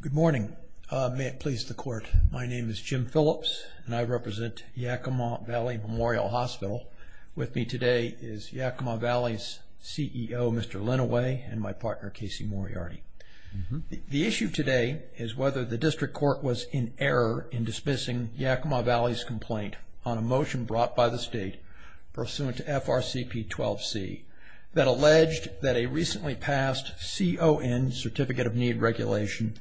Good morning. May it please the court. My name is Jim Phillips, and I represent Yakima Valley Memorial Hospital. With me today is Yakima Valley's CEO, Mr. Lenoway, and my partner, Casey Moriarty. The issue today is whether the district court was in error in dismissing Yakima Valley's complaint on a motion brought by the state pursuant to FRCP 12C that alleged that a recently passed CON, certificate of need regulation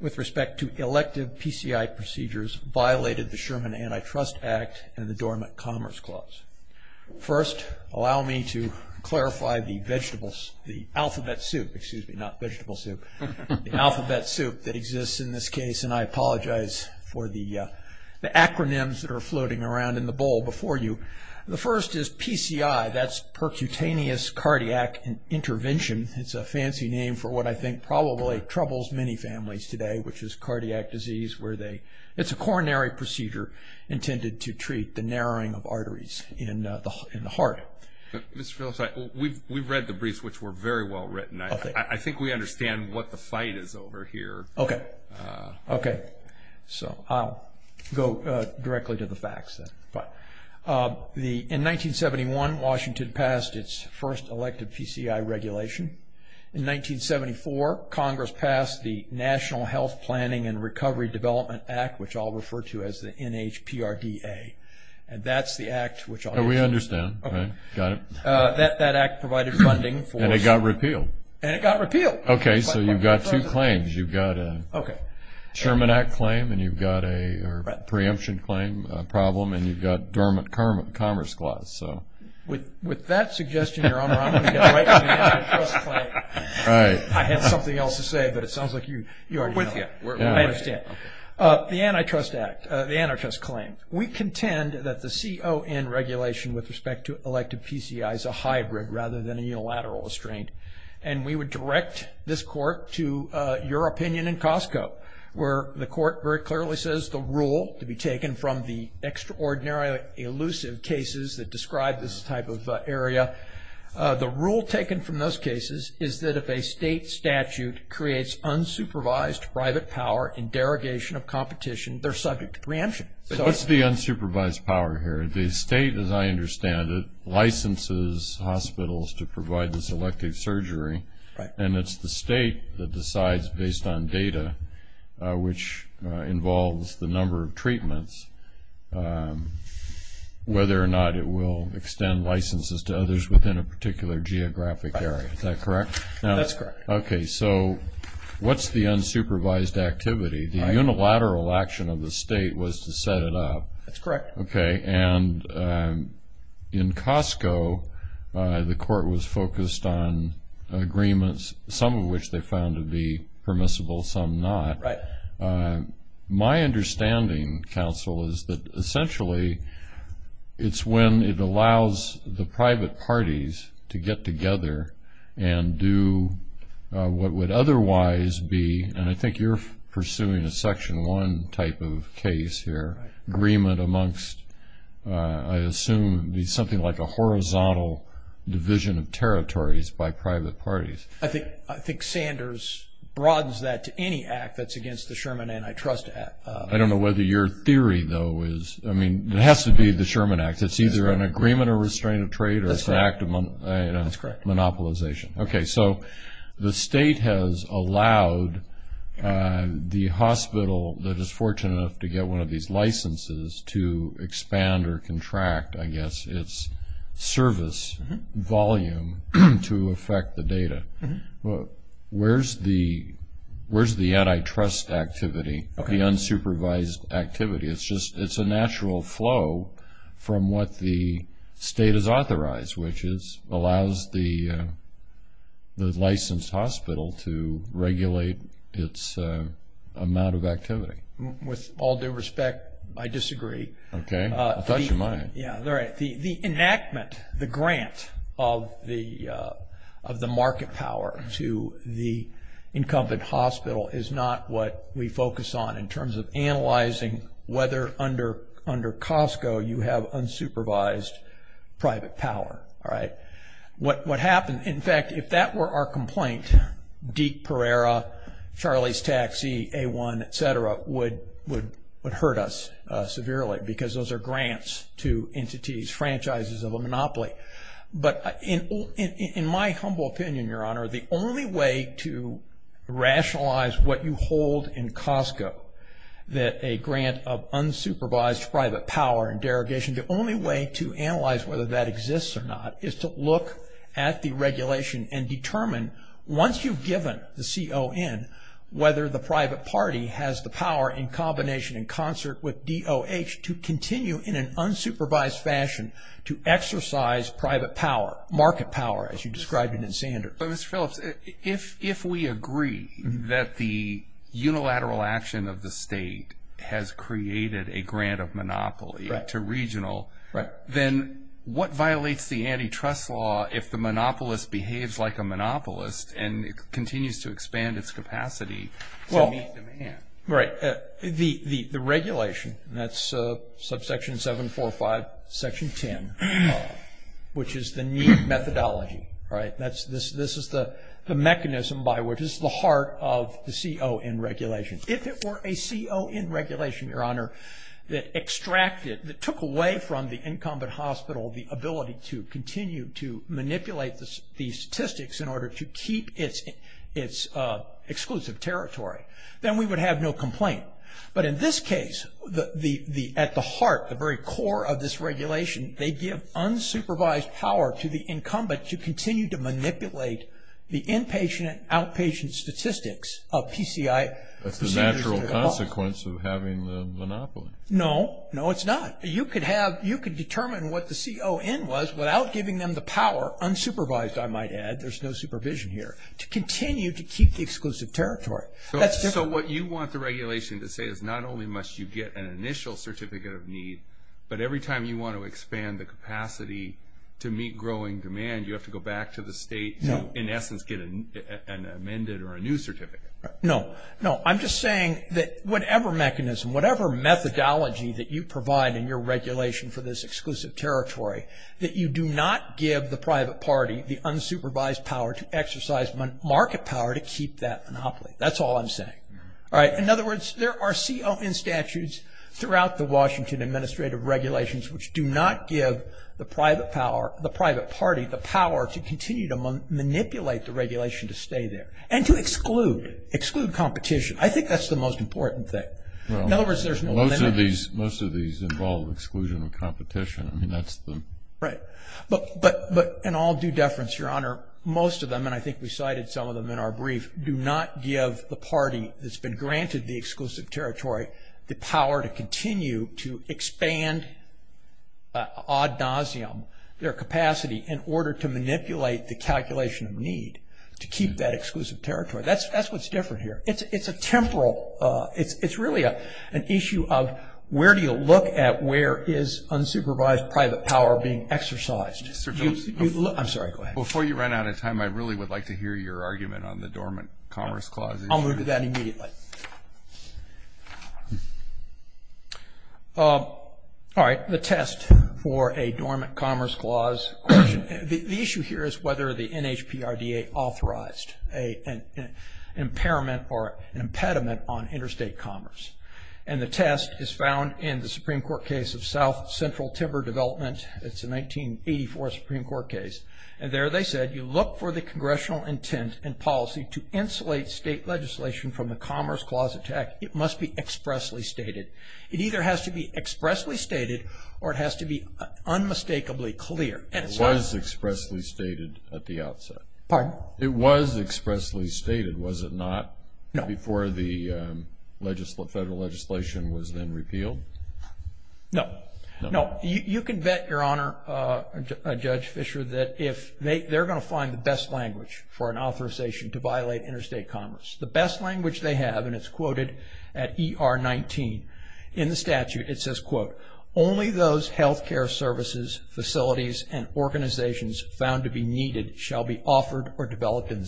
with respect to elective PCI procedures violated the Sherman Antitrust Act and the Dormant Commerce Clause. First, allow me to clarify the vegetables, the alphabet soup, excuse me, not vegetable soup, the alphabet soup that exists in this case, and I apologize for the acronyms that are floating around in the bowl before you. The first is PCI, that's percutaneous cardiac intervention. It's a fancy name for what I think probably troubles many families today, which is cardiac disease where they, it's a coronary procedure intended to treat the narrowing of arteries in the heart. Mr. Phillips, we've read the briefs which were very well written. I think we understand what the fight is over here. Okay, okay, so I'll go directly to the facts then. In 1971, Washington passed its first elective PCI regulation. In 1974, Congress passed the National Health Planning and Recovery Development Act, which I'll refer to as the NHPRDA, and that's the act which... We understand. Got it. That act provided funding for... And it got repealed. And it got repealed. Okay, so you've got two claims. You've got a Sherman Act claim, and you've got a preemption claim problem, and you've got dormant commerce clause, so... With that suggestion, Your Honor, I'm going to get right to the antitrust claim. Right. I had something else to say, but it sounds like you're with me. I understand. The antitrust act, the antitrust claim. We contend that the CON regulation with respect to elective PCI is a hybrid rather than a unilateral restraint, and we would direct this court to your opinion in Costco, where the ordinarily elusive cases that describe this type of area. The rule taken from those cases is that if a state statute creates unsupervised private power in derogation of competition, they're subject to preemption. What's the unsupervised power here? The state, as I understand it, licenses hospitals to provide this elective surgery, and it's the state that decides based on data which involves the number of treatments whether or not it will extend licenses to others within a particular geographic area. Is that correct? That's correct. Okay, so what's the unsupervised activity? The unilateral action of the state was to set it up. That's correct. Okay, and in Costco, the court was focused on agreements, some of which they found to be permissible, some not. Right. My understanding, counsel, is that essentially it's when it allows the private parties to get together and do what would otherwise be, and I think you're pursuing a section 1 type of case here, agreement amongst, I assume, something like a horizontal division of I think Sanders broadens that to any act that's against the Sherman Antitrust Act. I don't know whether your theory, though, is, I mean, it has to be the Sherman Act. It's either an agreement or restraint of trade or it's an act of monopolization. That's correct. Okay, so the state has allowed the hospital that is fortunate enough to get one of these licenses to expand or contract, I guess, its service volume to affect the data. Where's the antitrust activity, the unsupervised activity? It's just, it's a natural flow from what the state has authorized, which is, allows the licensed hospital to regulate its amount of activity. With all due respect, I disagree. Okay, I thought you might. Yeah, the enactment, the grant of the market power to the incumbent hospital is not what we focus on in terms of analyzing whether under Costco you have unsupervised private power, all right? What happened, in fact, if that were our complaint, Deke Pereira, Charlie's Taxi, A1, et cetera, would hurt us severely because those are grants to entities, franchises of a monopoly. But in my humble opinion, Your Honor, the only way to rationalize what you hold in Costco, that a grant of unsupervised private power and derogation, the only way to analyze whether that exists or not is to look at the regulation and determine, once you've given the CON, whether the private party has the power in combination in concert with DOH to continue in an unsupervised fashion to exercise private power, market power, as you described it in Sanders. But Mr. Phillips, if we agree that the unilateral action of the state has created a grant of monopoly to regional, then what violates the antitrust law if the monopolist behaves like a monopolist and continues to expand its hand? Right. The regulation, that's subsection 745, section 10, which is the need methodology, right? This is the mechanism by which, this is the heart of the CON regulation. If it were a CON regulation, Your Honor, that extracted, that took away from the incumbent hospital the ability to continue to manipulate these statistics in order to keep its exclusive territory, then we would have no complaint. But in this case, at the heart, the very core of this regulation, they give unsupervised power to the incumbent to continue to manipulate the inpatient, outpatient statistics of PCI. That's the natural consequence of having the monopoly. No, no it's not. You could have, you could determine what the CON was without giving them the power, unsupervised I might add, there's no supervision here, to continue to keep the exclusive territory. So what you want the regulation to say is not only must you get an initial certificate of need, but every time you want to expand the capacity to meet growing demand, you have to go back to the state, in essence, get an amended or a new certificate. No, no. I'm just saying that whatever mechanism, whatever methodology that you provide in your regulation for this exclusive territory, that you do not give the private party the unsupervised power to exercise market power to keep that monopoly. That's all I'm saying. All right. In other words, there are CON statutes throughout the Washington administrative regulations which do not give the private power, the private party the power to continue to manipulate the regulation to stay there and to exclude, exclude competition. I think that's the most important thing. In other words, there's no limit. Most of these involve exclusion of competition. I mean, that's the... Right. But in all due deference, Your Honor, most of them, and I think we cited some of them in our brief, do not give the party that's been granted the exclusive territory the power to continue to expand ad nauseum their capacity in order to manipulate the calculation of need to keep that exclusive territory. That's what's different here. It's a temporal, it's really an issue of where do you look at where is unsupervised private power being exercised? I'm sorry, go ahead. Before you run out of time, I really would like to hear your argument on the dormant commerce clause. I'll move to that immediately. All right. The test for a dormant commerce clause. The issue here is whether the NHPRDA authorized an impairment or impediment on interstate commerce. And the test is found in the Supreme Court case of South Central Timber Development. It's a 1984 Supreme Court case. And there they said you look for the congressional intent and policy to insulate state legislation from the commerce clause attack. It must be expressly stated. It either has to be expressly stated or it has to be unmistakably clear. It was expressly stated at the outset. Pardon? It was expressly stated, was it not? No. Before the federal legislation was then repealed? No. No. You can bet, Your Honor, Judge Fischer, that if they're going to find the best language for an authorization to violate interstate commerce, the best language they have, and it's quoted at ER 19 in the statute, it says, quote, only those health care services, facilities, and organizations found to be needed shall be offered or in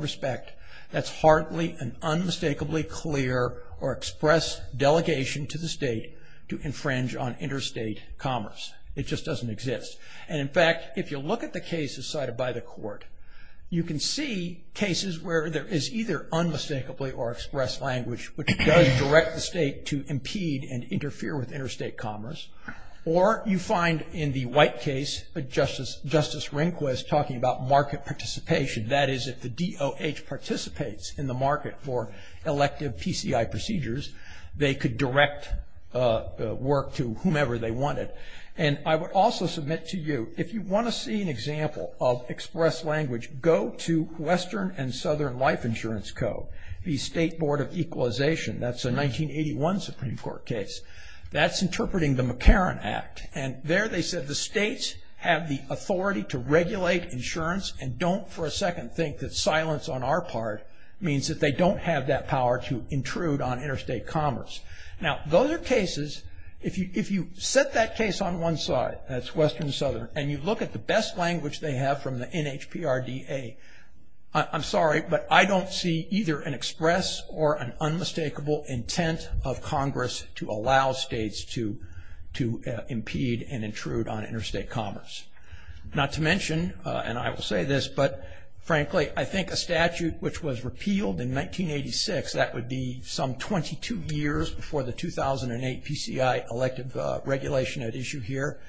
respect, that's hardly an unmistakably clear or express delegation to the state to infringe on interstate commerce. It just doesn't exist. And in fact, if you look at the cases cited by the court, you can see cases where there is either unmistakably or express language which does direct the state to impede and interfere with interstate commerce. Or you find in the White case, Justice Rehnquist talking about market participation, that is if the OH participates in the market for elective PCI procedures, they could direct work to whomever they wanted. And I would also submit to you, if you want to see an example of express language, go to Western and Southern Life Insurance Code, the State Board of Equalization. That's a 1981 Supreme Court case. That's interpreting the McCarran Act. And there they said the states have the authority to regulate insurance and don't for a second think that silence on our part means that they don't have that power to intrude on interstate commerce. Now, those are cases, if you set that case on one side, that's Western and Southern, and you look at the best language they have from the NHPRDA, I'm sorry, but I don't see either an express or an unmistakable intent of Congress to allow states to impede and intrude on interstate commerce. Not to mention, and I will say this, but frankly, I think a statute which was repealed in 1986, that would be some 22 years before the 2008 PCI elective regulation at issue here,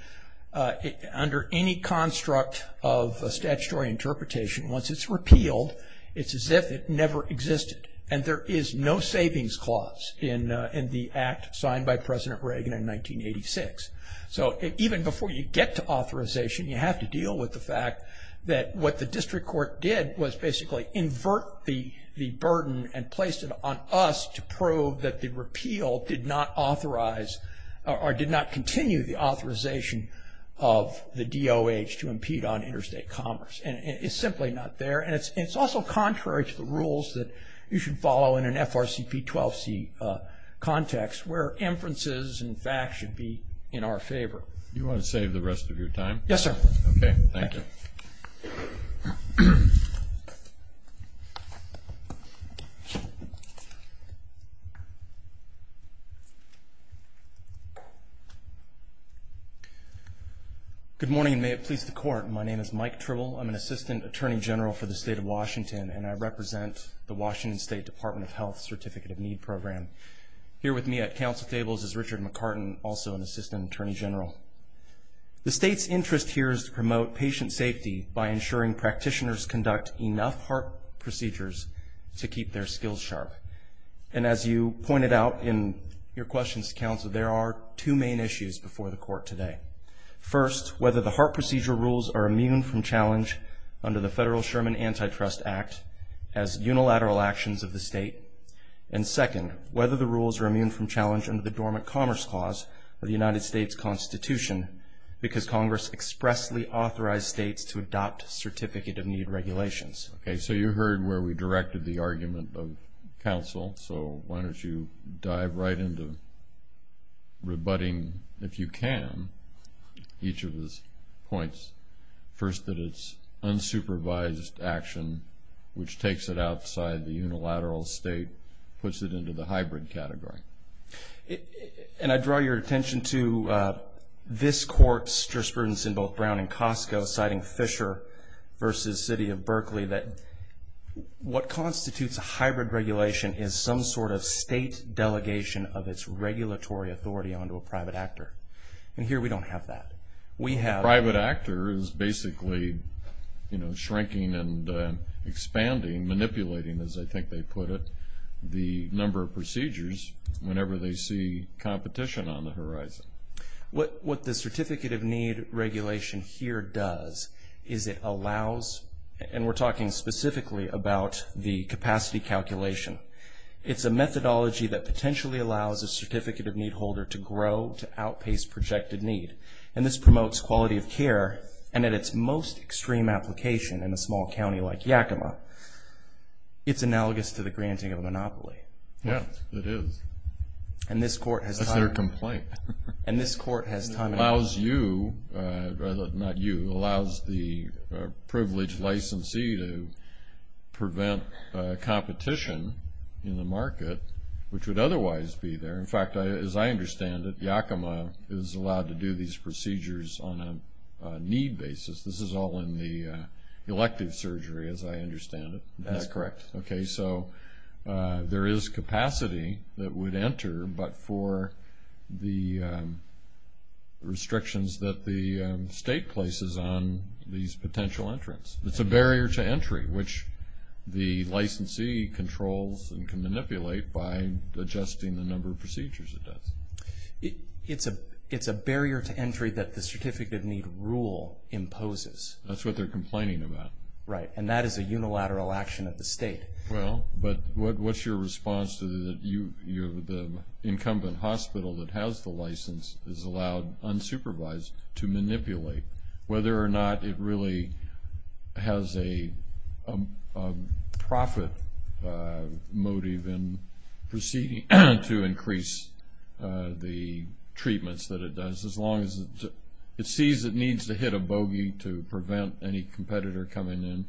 under any construct of statutory interpretation, once it's repealed, it's as if it never existed. And there is no savings clause in the act signed by President Reagan in 1986. So even before you get to authorization, you have to deal with the fact that what the district court did was basically invert the burden and placed it on us to prove that the repeal did not authorize or did not continue the authorization of the DOH to impede on interstate commerce. And it's simply not there. And it's also contrary to the rules that you should follow in FRCP 12C context, where inferences and facts should be in our favor. You want to save the rest of your time? Yes, sir. Okay, thank you. Good morning, and may it please the Court. My name is Mike Tribble. I'm an Assistant Attorney General for the state of Washington, and I represent the Health Certificate of Need Program. Here with me at council tables is Richard McCartan, also an Assistant Attorney General. The state's interest here is to promote patient safety by ensuring practitioners conduct enough heart procedures to keep their skills sharp. And as you pointed out in your questions to counsel, there are two main issues before the Court today. First, whether the heart procedure rules are immune from challenge under the federal Sherman Antitrust Act as unilateral actions of the state. And second, whether the rules are immune from challenge under the Dormant Commerce Clause of the United States Constitution, because Congress expressly authorized states to adopt certificate of need regulations. Okay, so you heard where we directed the argument of counsel, so why don't you dive right into rebutting, if you can, each of his points. First, that it's unsupervised action, which takes it outside the unilateral state, puts it into the hybrid category. And I draw your attention to this Court's jurisprudence in both Brown and Costco, citing Fisher versus City of Berkeley, that what constitutes a hybrid regulation is some sort of state delegation of its regulatory authority onto a private actor. And here we don't have that. We have... Private actor is basically, you know, shrinking and expanding, manipulating, as I think they put it, the number of procedures whenever they see competition on the horizon. What the certificate of need regulation here does is it allows, and we're talking specifically about the capacity calculation, it's a methodology that outpaces projected need. And this promotes quality of care, and at its most extreme application in a small county like Yakima, it's analogous to the granting of a monopoly. Yeah, it is. And this Court has... That's their complaint. And this Court has time... Allows you, rather than not you, allows the privileged licensee to prevent competition in the market, which would otherwise be there. In fact, as I understand it, Yakima is allowed to do these procedures on a need basis. This is all in the elective surgery, as I understand it. That's correct. Okay, so there is capacity that would enter, but for the restrictions that the state places on these potential entrants. It's a barrier to entry, which the licensee controls and can manipulate by adjusting the number of procedures it does. It's a barrier to entry that the certificate of need rule imposes. That's what they're complaining about. Right, and that is a unilateral action of the state. Well, but what's your response to the incumbent hospital that has the license is allowed unsupervised to manipulate, whether or not it really has a profit motive in proceeding to increase the treatments that it does. As long as it sees it needs to hit a bogey to prevent any competitor coming in,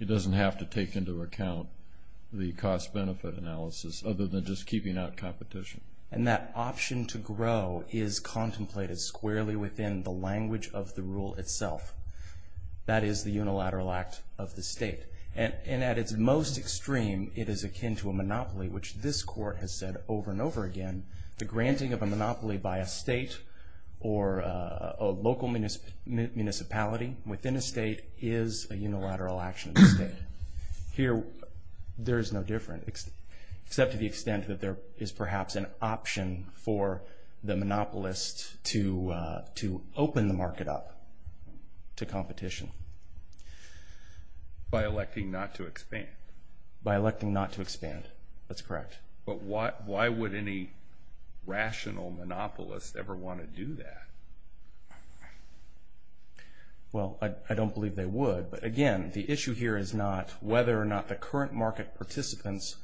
it doesn't have to take into account the cost-benefit analysis, other than just keeping out competition. And that option to grow is contemplated squarely within the language of the rule itself. That is the unilateral act of the state. And at its most extreme, it is akin to a monopoly, which this court has said over and over again, the granting of a monopoly by a state or a local municipality within a state is a unilateral action of the state. Here, there is no difference, except to the monopolist to open the market up to competition. By electing not to expand. By electing not to expand. That's correct. But why would any rational monopolist ever want to do that? Well, I don't believe they would. But again, the issue here is not whether or not the current market participants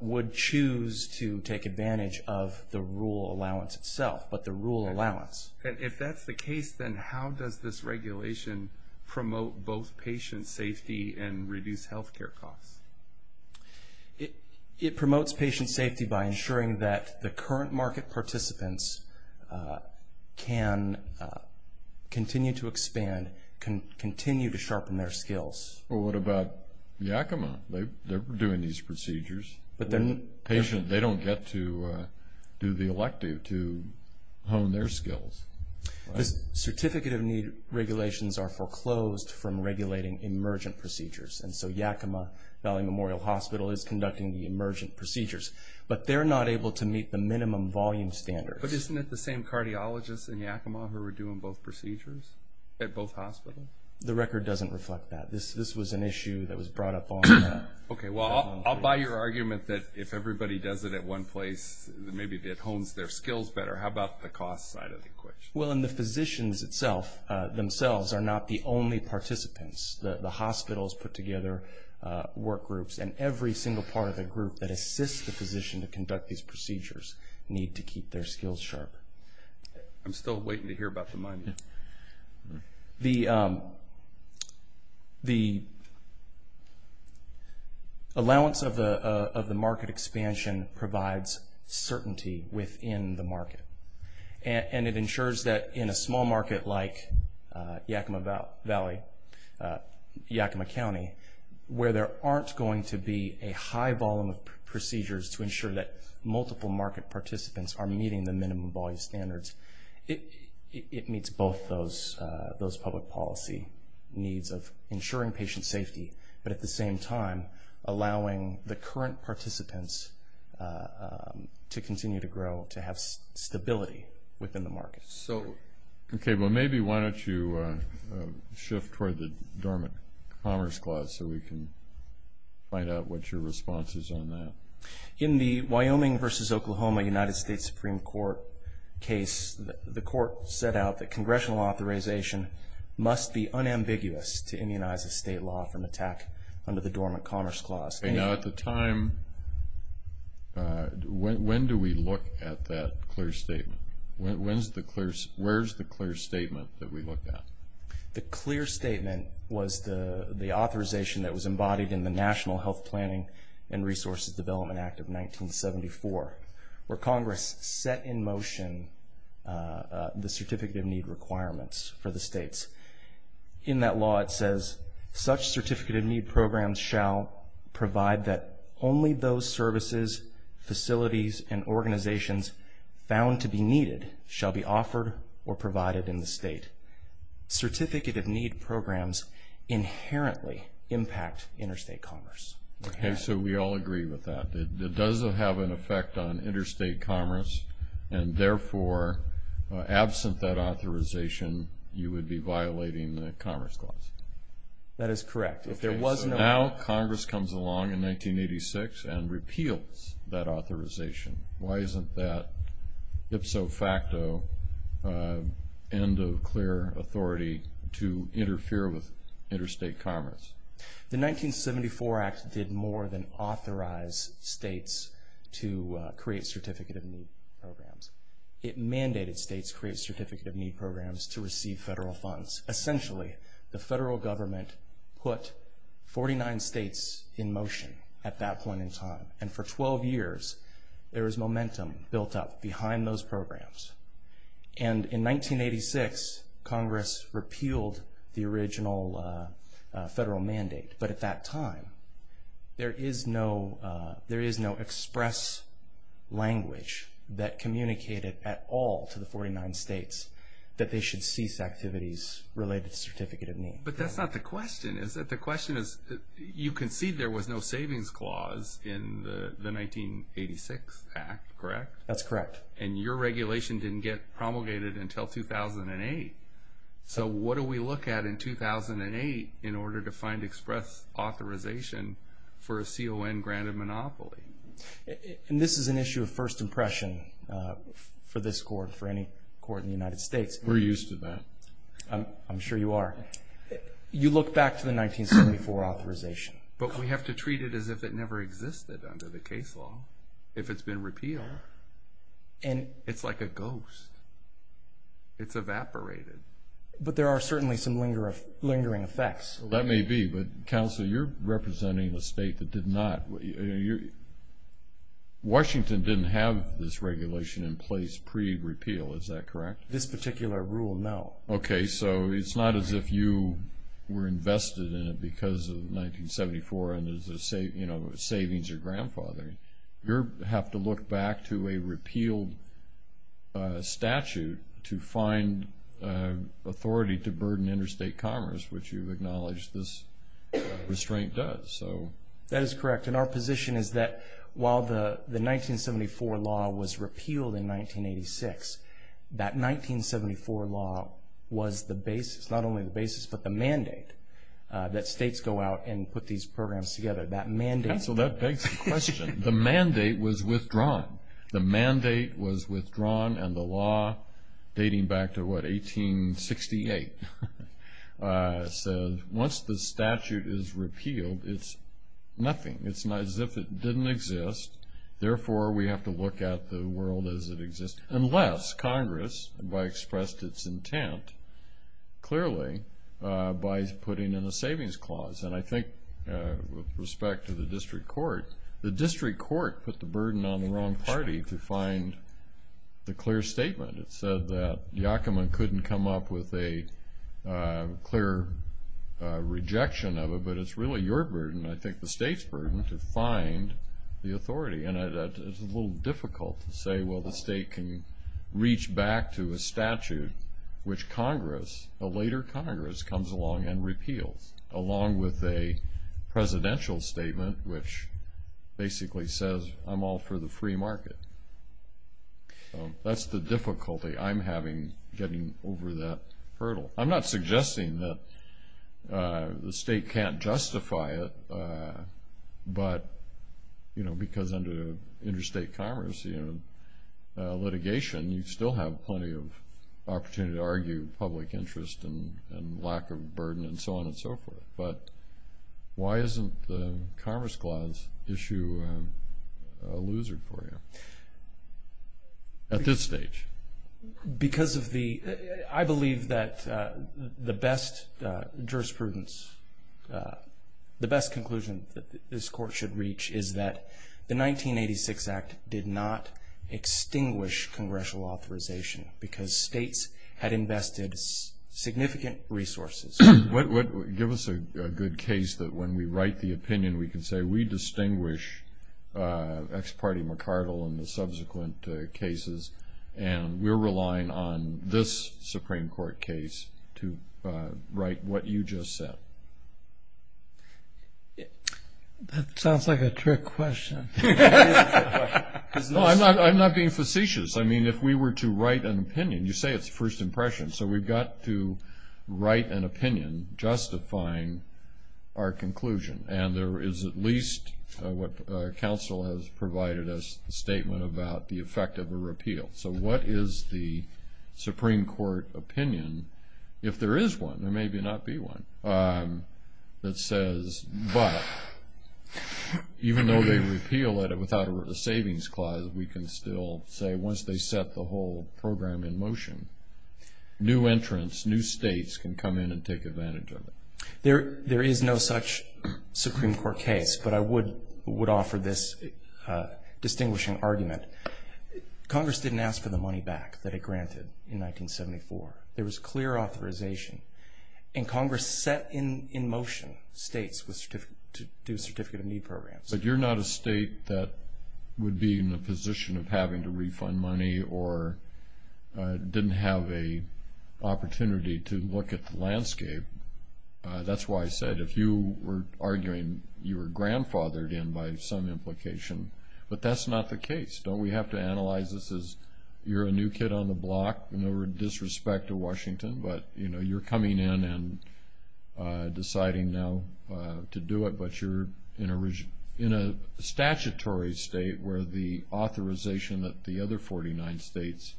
would choose to take advantage of the rule allowance itself, but the rule allowance. And if that's the case, then how does this regulation promote both patient safety and reduce health care costs? It promotes patient safety by ensuring that the current market participants can continue to expand, can continue to sharpen their skills. Well, what about Yakima? They're doing these procedures. But then patients, they don't get to do the elective to hone their skills. Certificate of need regulations are foreclosed from regulating emergent procedures. And so Yakima Valley Memorial Hospital is conducting the emergent procedures. But they're not able to meet the minimum volume standards. But isn't it the same cardiologists in Yakima who are doing both procedures at both hospitals? The record doesn't reflect that. This was an issue that was everybody does it at one place. Maybe it hones their skills better. How about the cost side of the equation? Well, and the physicians themselves are not the only participants. The hospitals put together workgroups. And every single part of the group that assists the physician to conduct these procedures need to keep their skills sharp. I'm still waiting to hear about the money. The allowance of the market expansion provides certainty within the market. And it ensures that in a small market like Yakima Valley, Yakima County, where there aren't going to be a high volume of procedures to ensure that multiple market participants are meeting the minimum volume standards, it meets both those public policy needs of ensuring patient safety, but at the same time, allowing the current participants to continue to grow, to have stability within the market. Okay, well maybe why don't you shift toward the Dormant Commerce Clause so we can find out what your response is on that. In the Wyoming versus Oklahoma United States Supreme Court case, the court set out that congressional authorization must be unambiguous to immunize a state law from attack under the Dormant Commerce Clause. Now, at the time, when do we look at that clear statement? Where's the clear statement that we looked at? The clear statement was the authorization that was embodied in the National Health Planning and Resources Development Act of 1974, where Congress set in motion the Certificate of Need requirements for the states. In that law, it says, such Certificate of Need programs shall provide that only those services, facilities, and organizations found to be needed shall be offered or provided in the state. Certificate of Need programs inherently impact interstate commerce. Okay, so we all agree with that. It does have an effect on interstate commerce, and therefore, absent that authorization, you would be violating the Commerce Clause. That is correct. If there was no... Okay, so now Congress comes along in 1986 and repeals that authorization. Why isn't that ipso facto end of clear authority to interfere with interstate commerce? The 1974 Act did more than programs. It mandated states create Certificate of Need programs to receive federal funds. Essentially, the federal government put 49 states in motion at that point in time. And for 12 years, there was momentum built up behind those programs. And in 1986, Congress repealed the original federal mandate. But at that point, Congress did not get communicated at all to the 49 states that they should cease activities related to Certificate of Need. But that's not the question, is it? The question is, you concede there was no savings clause in the 1986 Act, correct? That's correct. And your regulation didn't get promulgated until 2008. So what do we look at in 2008 in order to find express authorization for a this court, for any court in the United States? We're used to that. I'm sure you are. You look back to the 1974 authorization. But we have to treat it as if it never existed under the case law. If it's been repealed, it's like a ghost. It's evaporated. But there are certainly some lingering effects. That may be, but Counselor, you're representing a state that did not... Washington didn't have this regulation in place pre-repeal. Is that correct? This particular rule, no. Okay. So it's not as if you were invested in it because of 1974 and there's a savings or grandfathering. You have to look back to a repealed statute to find authority to burden interstate commerce, which you've acknowledged this restraint does. That is correct. And our position is that while the 1974 law was repealed in 1986, that 1974 law was the basis, not only the basis, but the mandate that states go out and put these programs together. Counsel, that begs the question. The mandate was withdrawn. The mandate was withdrawn and the law was repealed. It's nothing. It's not as if it didn't exist. Therefore, we have to look at the world as it exists, unless Congress, by expressed its intent, clearly, by putting in a savings clause. And I think with respect to the district court, the district court put the burden on the wrong party to find the clear statement. It said that Yakima couldn't come up with a clear rejection of it, but it's really your burden, I think the state's burden, to find the authority. And it's a little difficult to say, well, the state can reach back to a statute which Congress, a later Congress, comes along and repeals, along with a presidential statement which basically says, I'm all for the free market. That's the difficulty I'm having getting over that hurdle. I'm not suggesting that the state can't justify it, but, you know, because under interstate commerce, you know, litigation, you still have plenty of opportunity to argue public interest and lack of burden and so on and so forth. But why isn't the Commerce Clause issue a loser for you at this stage? Because of the, I believe that the best jurisprudence, the best conclusion that this court should reach is that the 1986 Act did not extinguish congressional authorization because states had invested significant resources. Give us a good case that when we write the opinion, we can say, we are relying on this Supreme Court case to write what you just said. That sounds like a trick question. No, I'm not being facetious. I mean, if we were to write an opinion, you say it's first impression, so we've got to write an opinion justifying our conclusion. And there is at least what counsel has provided us, a statement about the effect of a repeal. So what is the Supreme Court opinion, if there is one or maybe not be one, that says, but even though they repeal it without a savings clause, we can still say once they set the whole program in motion, new entrants, new states can come in and take advantage of it. There is no such Supreme Court case, but I would offer this distinguishing argument. Congress didn't ask for the money back that it granted in 1974. There was clear authorization, and Congress set in motion states to do certificate of need programs. But you're not a state that would be in a position of having to refund money or didn't have a opportunity to look at the landscape. That's why I said, if you were arguing, you were grandfathered in by some implication, but that's not the case. Don't we have to analyze this as, you're a new kid on the block, no disrespect to Washington, but you're coming in and deciding now to do it, but you're in a statutory state where the authorization that the other 49 states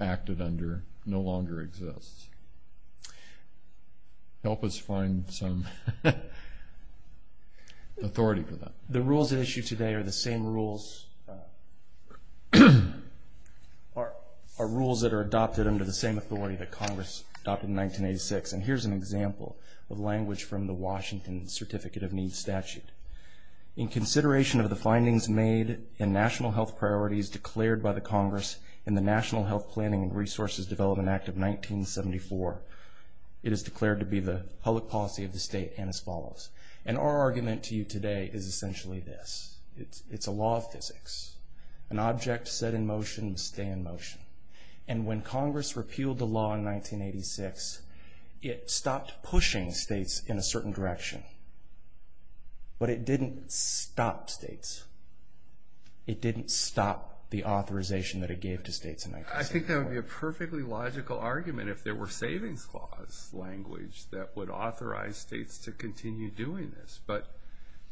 acted under no longer exists. Help us find some authority for that. The rules at issue today are the same rules that are adopted under the same authority that Congress adopted in 1986. And here's an example of language from the Washington Certificate of Need statute. In consideration of the findings made in national health priorities declared by the Congress in the National Health Planning and Resources Development Act of 1974, it is declared to be the public policy of the state and as essentially this, it's a law of physics. An object set in motion, stay in motion. And when Congress repealed the law in 1986, it stopped pushing states in a certain direction, but it didn't stop states. It didn't stop the authorization that it gave to states in 1986. I think that would be a perfectly logical argument if there were savings clause language that would authorize states to continue doing this. But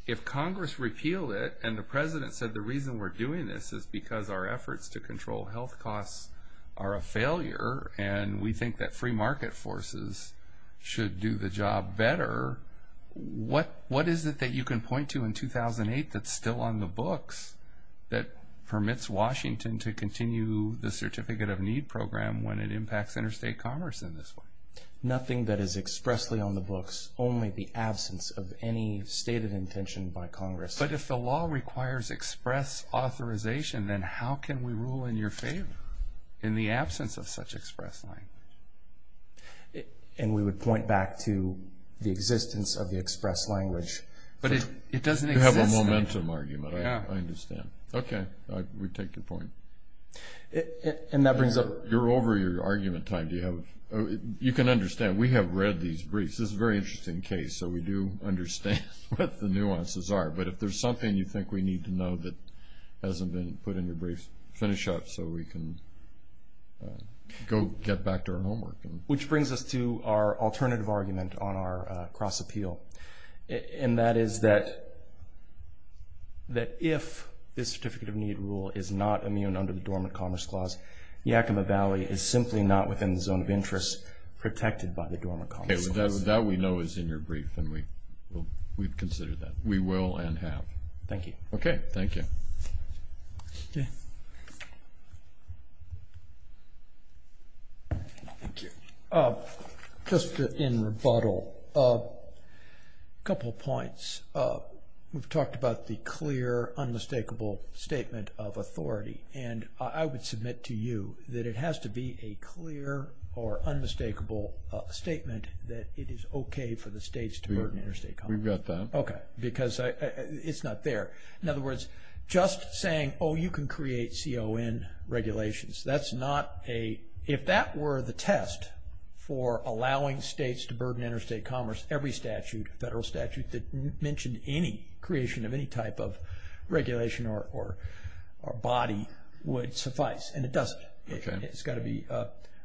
if Congress repealed it and the president said the reason we're doing this is because our efforts to control health costs are a failure and we think that free market forces should do the job better, what is it that you can point to in 2008 that's still on the books that permits Washington to continue the Certificate of Need program when it impacts interstate commerce in this way? Nothing that is expressly on the books, only the absence of any stated intention by Congress. But if the law requires express authorization, then how can we rule in your favor in the absence of such express language? And we would point back to the existence of the express language. But it doesn't exist. You have a momentum argument, I understand. Okay, we take your point. And that brings up... You're over your argument time. You can understand. We have read these briefs. This is a very interesting case, so we do understand what the nuances are. But if there's something you think we need to know that hasn't been put in your briefs, finish up so we can go get back to our homework. Which brings us to our alternative argument on our cross-appeal, and that is that if the Certificate of Need rule is not immune under the Dormant Commerce Clause, Yakima Valley is simply not within the zone of interest protected by the Dormant Commerce Clause. Okay, that we know is in your brief, and we've considered that. We will and have. Thank you. Okay, thank you. Thank you. Just in rebuttal, a couple of points. We've talked about the clear, unmistakable statement of authority. And I would submit to you that it has to be a clear or unmistakable statement that it is okay for the states to burden interstate commerce. We've got that. Okay, because it's not there. In other words, just saying, oh, you can create CON regulations. That's not a... If that were the test for allowing states to burden interstate commerce, every statute, federal statute that mentioned any creation of any type of regulation or body would suffice. And it doesn't. It's got to be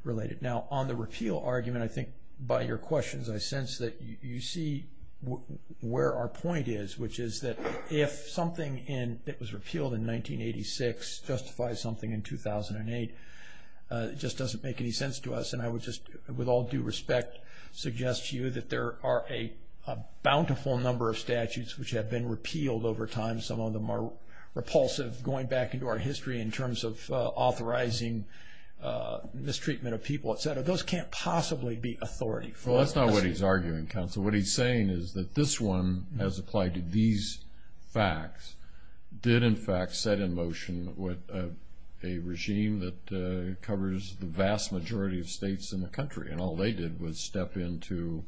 related. Now, on the repeal argument, I think by your questions, I sense that you see where our point is, which is that if something that was repealed in 1986 justifies something in 2008, it just doesn't make any sense to us. And I would just, with all due respect, suggest to you that there are a bountiful number of statutes which have been repealed over time. Some of them are repulsive going back into our history in terms of authorizing mistreatment of people, et cetera. Those can't possibly be authority. Well, that's not what he's arguing, counsel. What he's saying is that this one has applied to these facts, did in fact set in motion with a regime that covers the vast majority of states in the country. And all they did was step into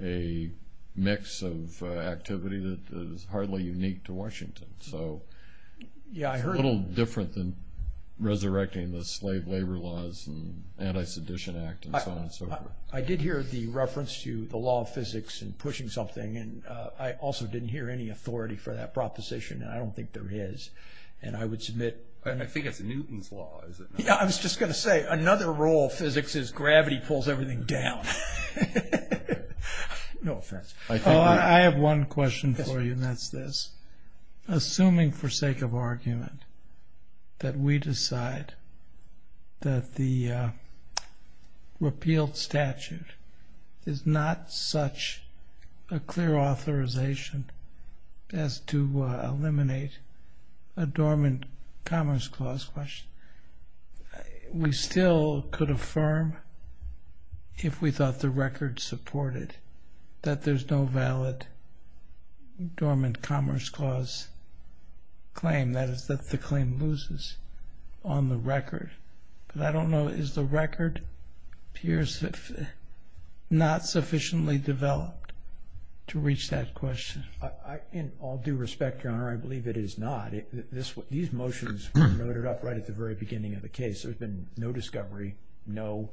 a mix of activity that is hardly unique to Washington. So it's a little different than resurrecting the slave labor laws and Anti-Sedition Act and so on and so forth. I did hear the reference to the law of physics and pushing something. And I also didn't hear any authority for that proposition. And I don't think there is. And I would submit. And I think it's Newton's law, is it not? Yeah, I was just going to say, another role of physics is gravity pulls everything down. No offense. I have one question for you, and that's this. Assuming for sake of argument that we decide that the repealed statute is not such a clear authorization as to eliminate a dormant commerce clause question, we still could affirm if we thought the record supported that there's no valid dormant commerce clause claim, that is that the claim loses on the record. But I don't know, is the record not sufficiently developed to reach that question? In all due respect, Your Honor, I believe it is not. These motions were noted up right at the very beginning of the case. There's been no discovery, no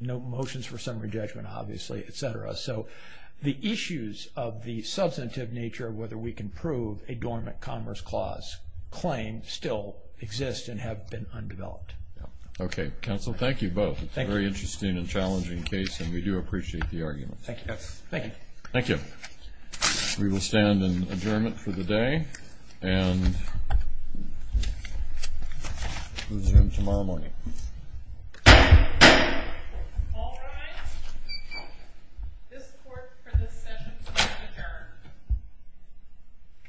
motions for summary judgment, obviously, et cetera. So the issues of the substantive nature of whether we can prove a dormant commerce clause claim still exist and have been undeveloped. Okay. Counsel, thank you both. It's a very interesting and challenging case, and we do appreciate the argument. Thank you. Thank you. Thank you. We will stand in adjournment for the day, and resume tomorrow morning. All rise. This court for this session is now adjourned.